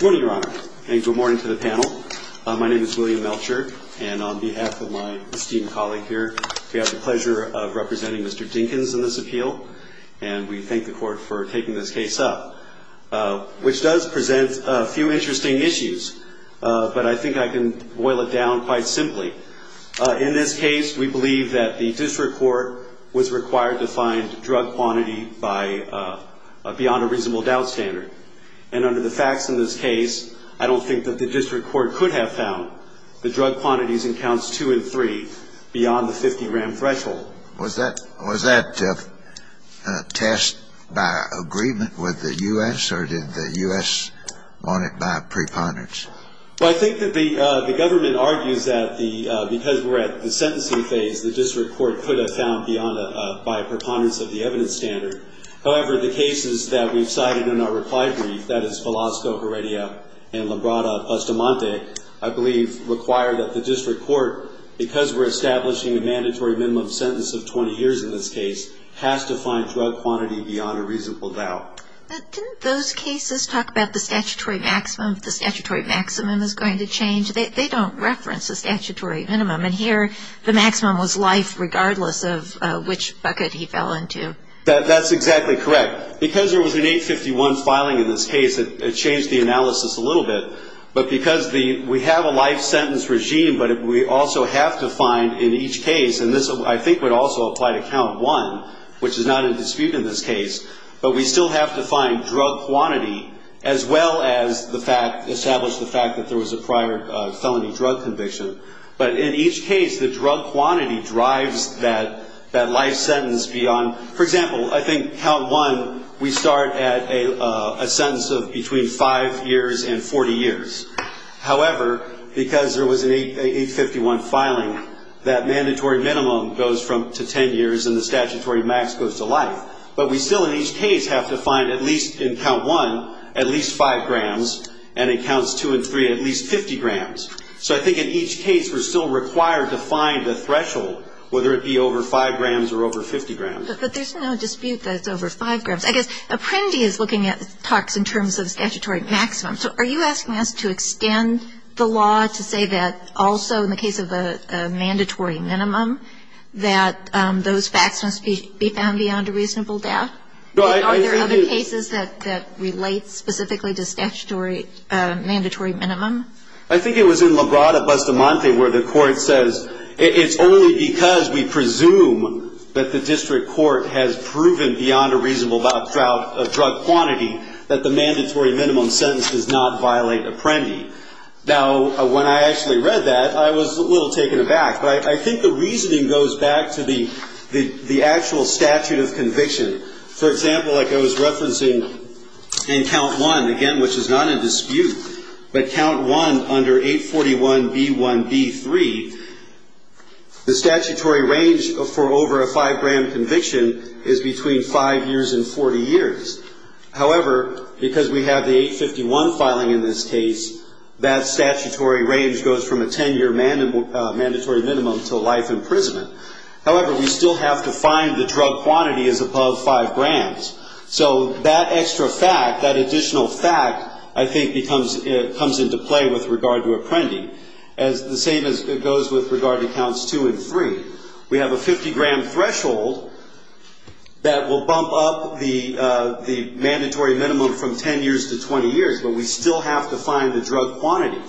Good morning, Your Honor. And good morning to the panel. My name is William Melcher. And on behalf of my esteemed colleague here, we have the pleasure of representing Mr. Dinkins in this appeal. And we thank the court for taking this case up, which does present a few interesting issues. But I think I can boil it down quite simply. In this case, we believe that the district court was required to find drug quantity by beyond a reasonable doubt standard. And under the facts in this case, I don't think that the district court could have found the drug quantities in counts 2 and 3 beyond the 50-gram threshold. Was that test by agreement with the U.S., or did the U.S. want it by a preponderance? Well, I think that the government argues that because we're at the sentencing phase, the district court could have found by a preponderance of the evidence standard. However, the cases that we've cited in our reply brief, that is Velasco, Heredia, and Labrada-Pastamonte, I believe require that the district court, because we're establishing a mandatory minimum sentence of 20 years in this case, has to find drug quantity beyond a reasonable doubt. But didn't those cases talk about the statutory maximum, if the statutory maximum is going to change? They don't reference a statutory minimum. And here, the maximum was life, regardless of which bucket he fell into. That's exactly correct. Because there was an 851 filing in this case, it changed the analysis a little bit. But because we have a life sentence regime, but we also have to find in each case, and this I think would also apply to count 1, which is not in dispute in this case, but we still have to find drug quantity as well as establish the fact that there was a prior felony drug conviction. But in each case, the drug quantity drives that life sentence beyond. For example, I think count 1, we start at a sentence of between 5 years and 40 years. However, because there was an 851 filing, that mandatory minimum goes to 10 years and the statutory max goes to life. But we still in each case have to find at least in count 1, at least 5 grams, and in counts 2 and 3, at least 50 grams. So I think in each case, we're still required to find the threshold, whether it be over 5 grams or over 50 grams. But there's no dispute that it's over 5 grams. I guess Apprendi is looking at talks in terms of statutory maximum. So are you asking us to extend the law to say that also in the case of a mandatory minimum, that those facts must be found beyond a reasonable doubt? Are there other cases that relate specifically to statutory mandatory minimum? I think it was in Labrada-Bustamante where the court says, it's only because we presume that the district court has proven beyond a reasonable doubt of drug quantity that the mandatory minimum sentence does not violate Apprendi. Now, when I actually read that, I was a little taken aback. But I think the reasoning goes back to the actual statute of conviction. For example, like I was referencing in count 1, again, which is not in dispute. But count 1 under 841B1B3, the statutory range for over a 5-gram conviction is between 5 years and 40 years. However, because we have the 851 filing in this case, that statutory range goes from a 10-year mandatory minimum to life imprisonment. However, we still have to find the drug quantity is above 5 grams. So that extra fact, that additional fact, I think comes into play with regard to Apprendi. The same goes with regard to counts 2 and 3. We have a 50-gram threshold that will bump up the mandatory minimum from 10 years to 20 years, but we still have to find the drug quantity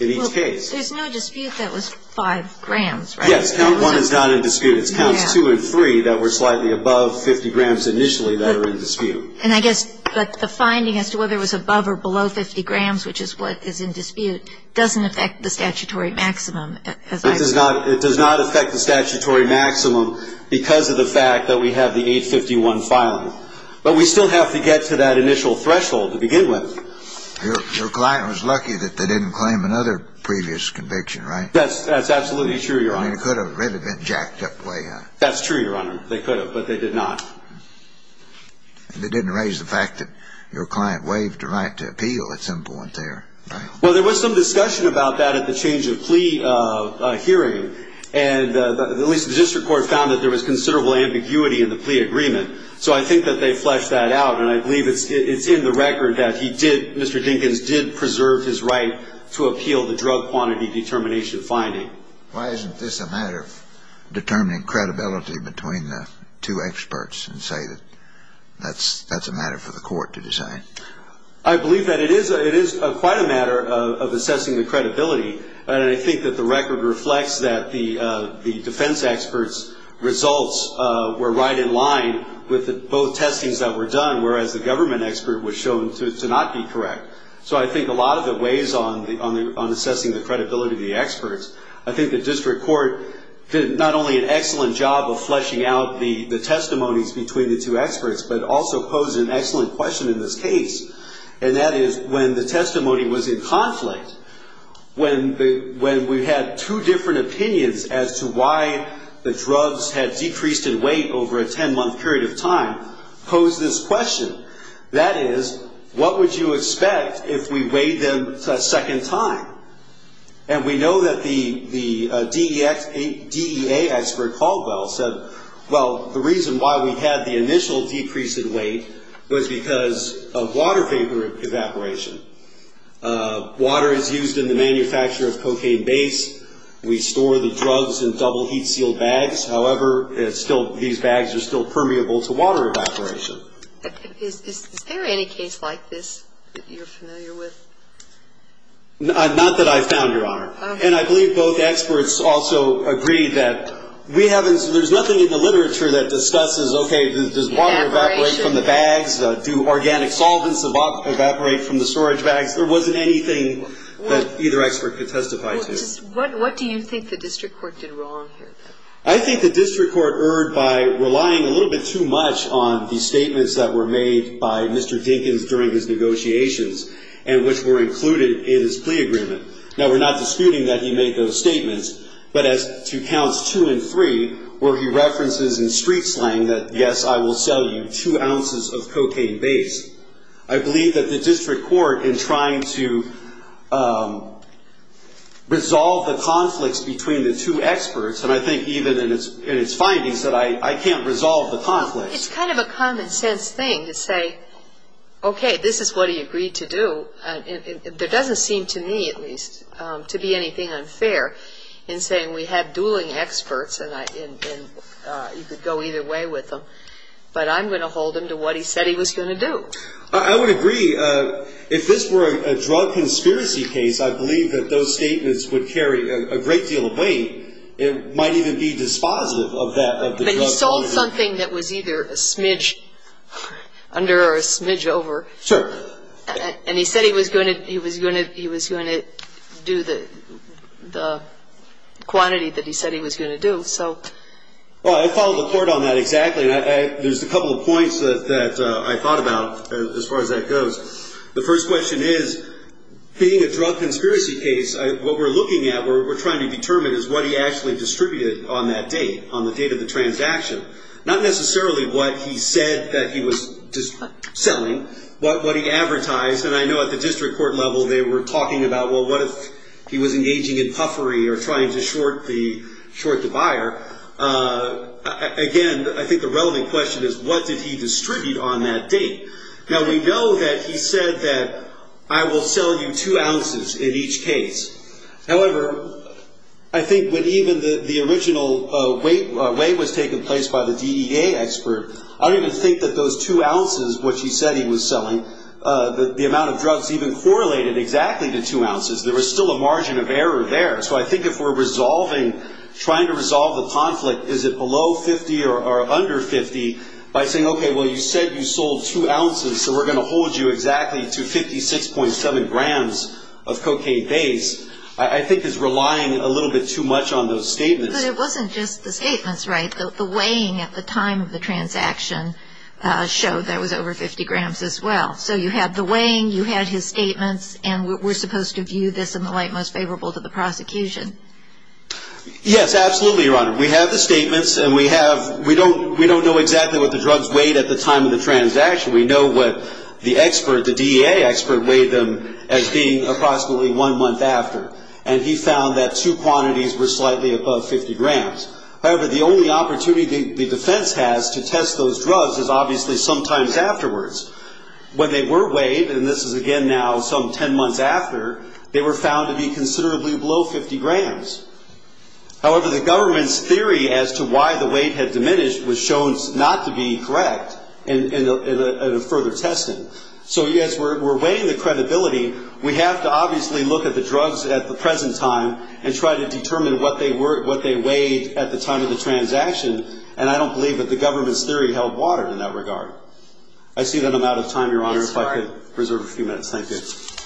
in each case. There's no dispute that was 5 grams, right? Yes, count 1 is not in dispute. It's counts 2 and 3 that were slightly above 50 grams initially that are in dispute. And I guess the finding as to whether it was above or below 50 grams, which is what is in dispute, doesn't affect the statutory maximum. It does not affect the statutory maximum because of the fact that we have the 851 filing. But we still have to get to that initial threshold to begin with. Your client was lucky that they didn't claim another previous conviction, right? That's absolutely true, Your Honor. I mean, it could have really been jacked up way high. That's true, Your Honor. They could have, but they did not. And it didn't raise the fact that your client waived the right to appeal at some point there, right? Well, there was some discussion about that at the change of plea hearing, and at least the district court found that there was considerable ambiguity in the plea agreement. So I think that they fleshed that out, and I believe it's in the record that he did, Mr. Dinkins did preserve his right to appeal the drug quantity determination finding. Why isn't this a matter of determining credibility between the two experts and say that that's a matter for the court to decide? I believe that it is quite a matter of assessing the credibility, and I think that the record reflects that the defense experts' results were right in line with both testings that were done, whereas the government expert was shown to not be correct. So I think a lot of it weighs on assessing the credibility of the experts. I think the district court did not only an excellent job of fleshing out the testimonies between the two experts, but also posed an excellent question in this case, and that is when the testimony was in conflict, when we had two different opinions as to why the drugs had decreased in weight over a 10-month period of time, posed this question, that is, what would you expect if we weighed them a second time? And we know that the DEA expert Caldwell said, well, the reason why we had the initial decrease in weight was because of water vapor evaporation. Water is used in the manufacture of cocaine base. We store the drugs in double heat-sealed bags. However, these bags are still permeable to water evaporation. Is there any case like this that you're familiar with? Not that I've found, Your Honor. And I believe both experts also agreed that there's nothing in the literature that discusses, okay, does water evaporate from the bags? Do organic solvents evaporate from the storage bags? There wasn't anything that either expert could testify to. What do you think the district court did wrong here? I think the district court erred by relying a little bit too much on the statements that were made by Mr. Dinkins during his negotiations and which were included in his plea agreement. Now, we're not disputing that he made those statements, but as to counts two and three, where he references in street slang that, yes, I will sell you two ounces of cocaine base, I believe that the district court, in trying to resolve the conflicts between the two experts, and I think even in its findings that I can't resolve the conflicts. It's kind of a common sense thing to say, okay, this is what he agreed to do. There doesn't seem to me, at least, to be anything unfair in saying we have dueling experts and you could go either way with them, but I'm going to hold him to what he said he was going to do. I would agree. If this were a drug conspiracy case, I believe that those statements would carry a great deal of weight. It might even be dispositive of that, of the drug quantity. But he sold something that was either a smidge under or a smidge over. Sir. And he said he was going to do the quantity that he said he was going to do. Well, I follow the court on that exactly. There's a couple of points that I thought about as far as that goes. The first question is, being a drug conspiracy case, what we're looking at, what we're trying to determine is what he actually distributed on that date, on the date of the transaction, not necessarily what he said that he was selling, but what he advertised. And I know at the district court level they were talking about, well, what if he was engaging in puffery or trying to short the buyer. Again, I think the relevant question is, what did he distribute on that date? Now, we know that he said that I will sell you two ounces in each case. However, I think when even the original weight was taking place by the DEA expert, I don't even think that those two ounces, which he said he was selling, the amount of drugs even correlated exactly to two ounces. There was still a margin of error there. So I think if we're resolving, trying to resolve the conflict, is it below 50 or under 50, by saying, okay, well, you said you sold two ounces, so we're going to hold you exactly to 56.7 grams of cocaine base, I think is relying a little bit too much on those statements. But it wasn't just the statements, right? The weighing at the time of the transaction showed that it was over 50 grams as well. So you had the weighing, you had his statements, and we're supposed to view this in the light most favorable to the prosecution. Yes, absolutely, Your Honor. We have the statements, and we don't know exactly what the drugs weighed at the time of the transaction. We know what the expert, the DEA expert, weighed them as being approximately one month after, and he found that two quantities were slightly above 50 grams. However, the only opportunity the defense has to test those drugs is obviously sometimes afterwards. When they were weighed, and this is again now some 10 months after, they were found to be considerably below 50 grams. However, the government's theory as to why the weight had diminished was shown not to be correct in a further testing. So, yes, we're weighing the credibility. We have to obviously look at the drugs at the present time and try to determine what they weighed at the time of the transaction, and I don't believe that the government's theory held water in that regard. I see that I'm out of time, Your Honor, if I could reserve a few minutes. Yes, I could.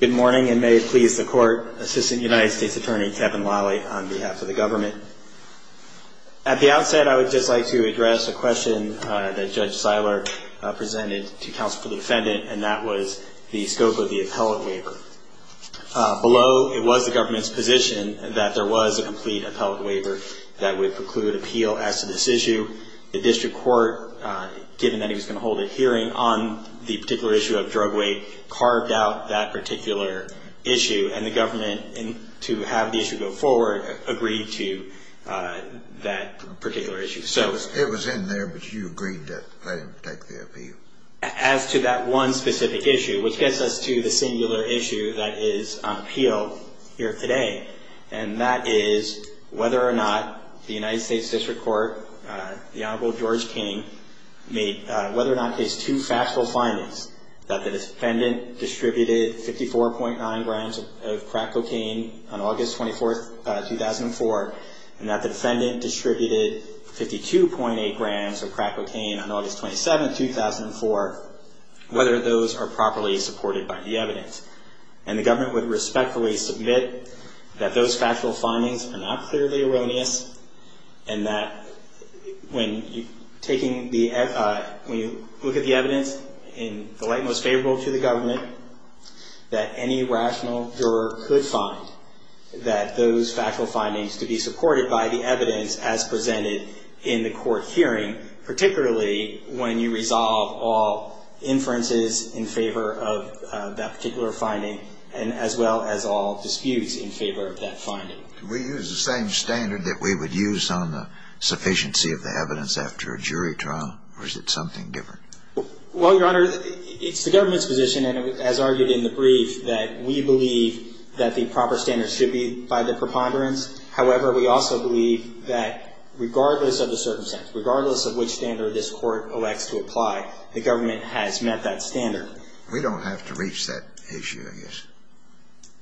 Good morning, and may it please the Court. Assistant United States Attorney Kevin Lawley on behalf of the government. At the outset, I would just like to address a question that Judge Seiler presented to counsel for the defendant, and that was the scope of the appellate waiver. Below, it was the government's position that there was a complete appellate waiver that would preclude appeal as to this issue. The district court, given that he was going to hold a hearing on the particular issue of drug weight, carved out that particular issue, and the government, to have the issue go forward, agreed to that particular issue. So it was in there, but you agreed to let him take the appeal? As to that one specific issue, which gets us to the singular issue that is on appeal here today, and that is whether or not the United States District Court, the Honorable George King, made whether or not his two factual findings, that the defendant distributed 54.9 grams of crack cocaine on August 24, 2004, and that the defendant distributed 52.8 grams of crack cocaine on August 27, 2004, whether those are properly supported by the evidence. And the government would respectfully submit that those factual findings are not clearly erroneous, and that when you look at the evidence in the light most favorable to the government, that any rational juror could find that those factual findings to be supported by the evidence as presented in the court hearing, particularly when you resolve all inferences in favor of that particular finding, and as well as all disputes in favor of that finding. Do we use the same standard that we would use on the sufficiency of the evidence after a jury trial, or is it something different? Well, Your Honor, it's the government's position, and as argued in the brief, that we believe that the proper standard should be by the preponderance. However, we also believe that regardless of the circumstance, regardless of which standard this court elects to apply, the government has met that standard. We don't have to reach that issue, I guess,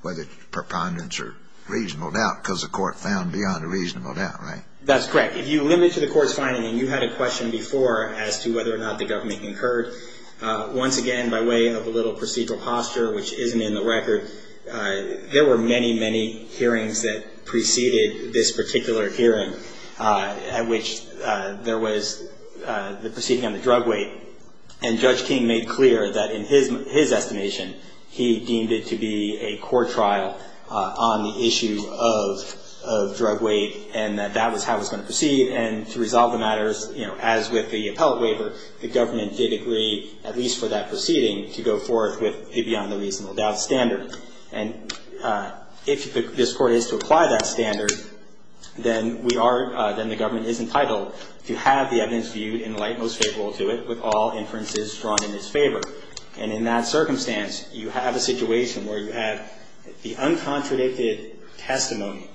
whether it's preponderance or reasonable doubt, because the court found beyond a reasonable doubt, right? That's correct. If you limit it to the court's finding, and you had a question before as to whether or not the government concurred, once again, by way of a little procedural posture which isn't in the record, there were many, many hearings that preceded this particular hearing, at which there was the proceeding on the drug weight, and Judge King made clear that in his estimation, he deemed it to be a court trial on the issue of drug weight, and that that was how it was going to proceed, and to resolve the matters, you know, as with the appellate waiver, the government did agree, at least for that proceeding, to go forth with the beyond a reasonable doubt standard. And if this court is to apply that standard, then we are, then the government is entitled to have the evidence viewed in the light most favorable to it, with all inferences drawn in its favor. And in that circumstance, you have a situation where you have the uncontradicted testimony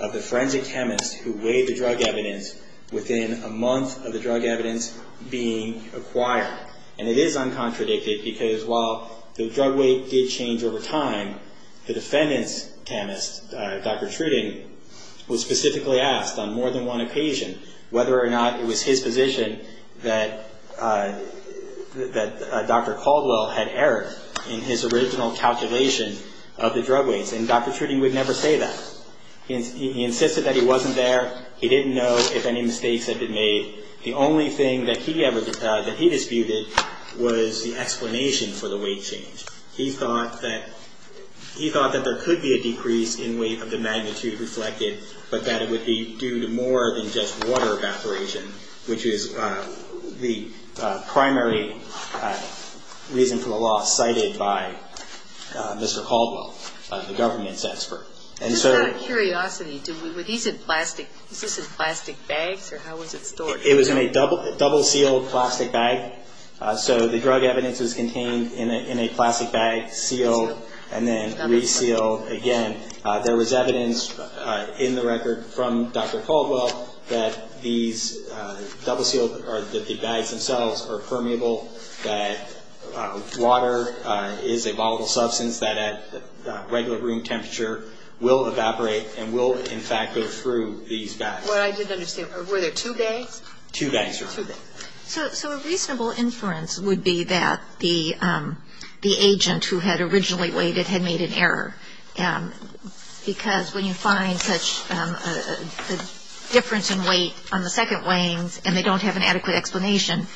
of the forensic chemist who weighed the drug evidence within a month of the drug evidence being acquired. And it is uncontradicted, because while the drug weight did change over time, the defendant's chemist, Dr. Truding, was specifically asked on more than one occasion whether or not it was his position that Dr. Caldwell had error in his original calculation of the drug weights, and Dr. Truding would never say that. He insisted that he wasn't there. He didn't know if any mistakes had been made. The only thing that he disputed was the explanation for the weight change. He thought that there could be a decrease in weight of the magnitude reflected, but that it would be due to more than just water evaporation, which is the primary reason for the loss cited by Mr. Caldwell, the government's expert. And so the drug evidence is contained in a plastic bag, sealed, and then resealed again. It was in a double-sealed plastic bag. So the drug evidence is contained in a plastic bag, sealed, and then resealed again. There was evidence in the record from Dr. Caldwell that these double-sealed or that the bags themselves are permeable, that water is a volatile substance that at regular room temperature will evaporate and will, in fact, go through these bags. Well, I didn't understand. Were there two bags? Two bags, Your Honor. Two bags. So a reasonable inference would be that the agent who had originally weighed it had made an error, because when you find such a difference in weight on the second weighings and they don't have an adequate explanation,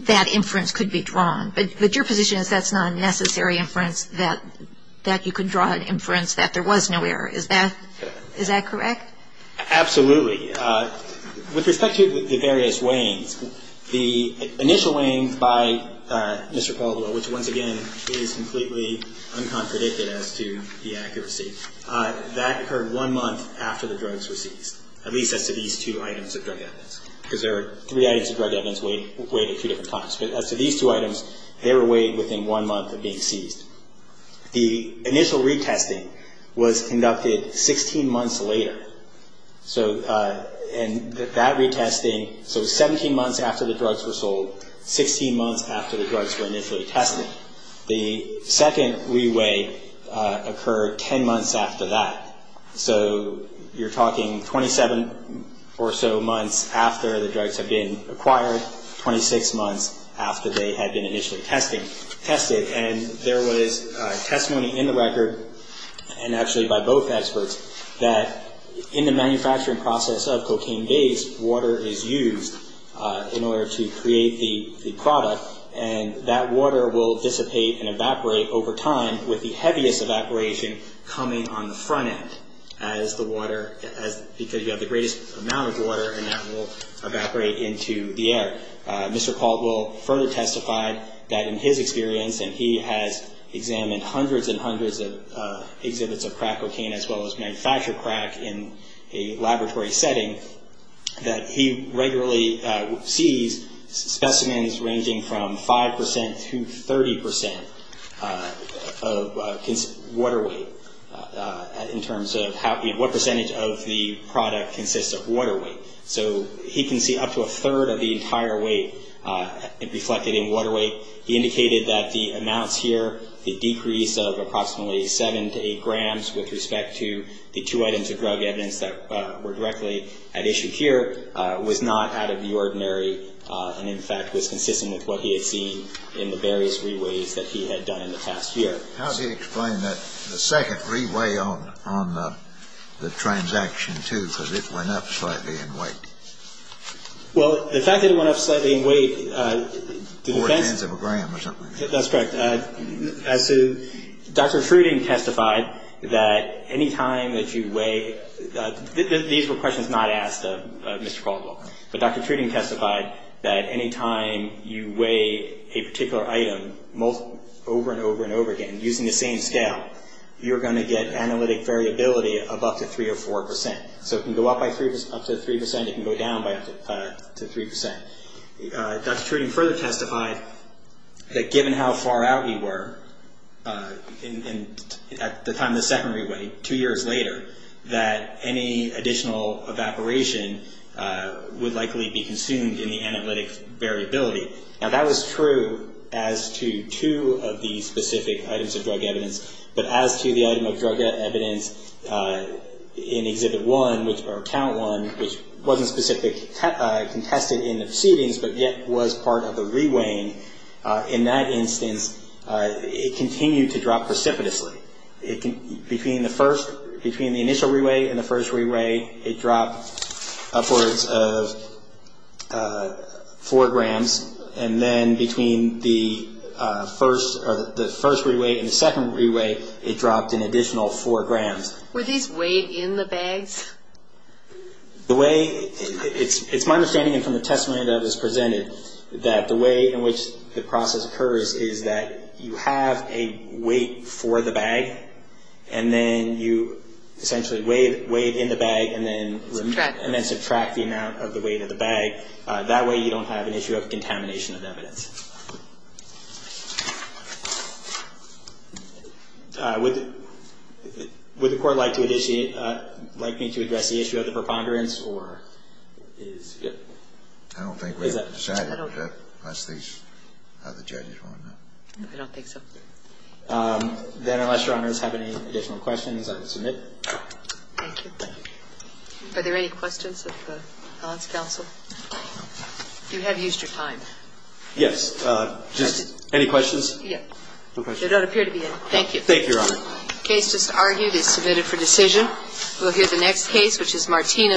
that inference could be drawn. But your position is that's not a necessary inference, that you could draw an inference that there was no error. Is that correct? Absolutely. With respect to the various weighings, the initial weighings by Mr. Caldwell, which once again is completely uncontradicted as to the accuracy, that occurred one month after the drugs were seized, at least as to these two items of drug evidence, because there are three items of drug evidence weighed at two different times. But as to these two items, they were weighed within one month of being seized. The initial retesting was conducted 16 months later. And that retesting, so 17 months after the drugs were sold, 16 months after the drugs were initially tested. The second re-weigh occurred 10 months after that. So you're talking 27 or so months after the drugs had been acquired, 26 months after they had been initially tested. And there was testimony in the record, and actually by both experts, that in the manufacturing process of cocaine-based, water is used in order to create the product. And that water will dissipate and evaporate over time, with the heaviest evaporation coming on the front end, because you have the greatest amount of water, and that will evaporate into the air. Mr. Caldwell further testified that in his experience, and he has examined hundreds and hundreds of exhibits of crack cocaine, as well as manufactured crack in a laboratory setting, that he regularly sees specimens ranging from 5 percent to 30 percent of water weight, in terms of what percentage of the product consists of water weight. So he can see up to a third of the entire weight reflected in water weight. He indicated that the amounts here, the decrease of approximately 7 to 8 grams, with respect to the two items of drug evidence that were directly at issue here, was not out of the ordinary, and in fact was consistent with what he had seen in the various re-weighs that he had done in the past year. How does he explain that the second re-weigh on the transaction too, because it went up slightly in weight? Well, the fact that it went up slightly in weight... Four-tenths of a gram or something. That's correct. As to Dr. Truding testified that any time that you weigh... These were questions not asked of Mr. Caldwell, but Dr. Truding testified that any time you weigh a particular item over and over and over again, using the same scale, you're going to get analytic variability of up to 3 or 4 percent. So it can go up by up to 3 percent. It can go down by up to 3 percent. Dr. Truding further testified that given how far out we were at the time of the second re-weigh, two years later, that any additional evaporation would likely be consumed in the analytic variability. Now, that was true as to two of the specific items of drug evidence, but as to the item of drug evidence in Exhibit 1, or Count 1, which wasn't specifically contested in the proceedings but yet was part of the re-weighing, in that instance it continued to drop precipitously. Between the initial re-weigh and the first re-weigh, it dropped upwards of 4 grams, and then between the first re-weigh and the second re-weigh, it dropped an additional 4 grams. Were these weighed in the bags? It's my understanding, and from the testimony that was presented, that the way in which the process occurs is that you have a weight for the bag, and then you essentially weigh it in the bag and then subtract the amount of the weight of the bag. That way you don't have an issue of contamination of evidence. Would the Court like me to address the issue of the preponderance, or is it? I don't think we have decided that, unless these other judges want to know. I don't think so. Then, unless Your Honors have any additional questions, I will submit. Thank you. Are there any questions of the balance counsel? You have used your time. Yes. Just any questions? Yes. There don't appear to be any. Thank you. Thank you, Your Honor. The case just argued is submitted for decision. We'll hear the next case, which is Martina's.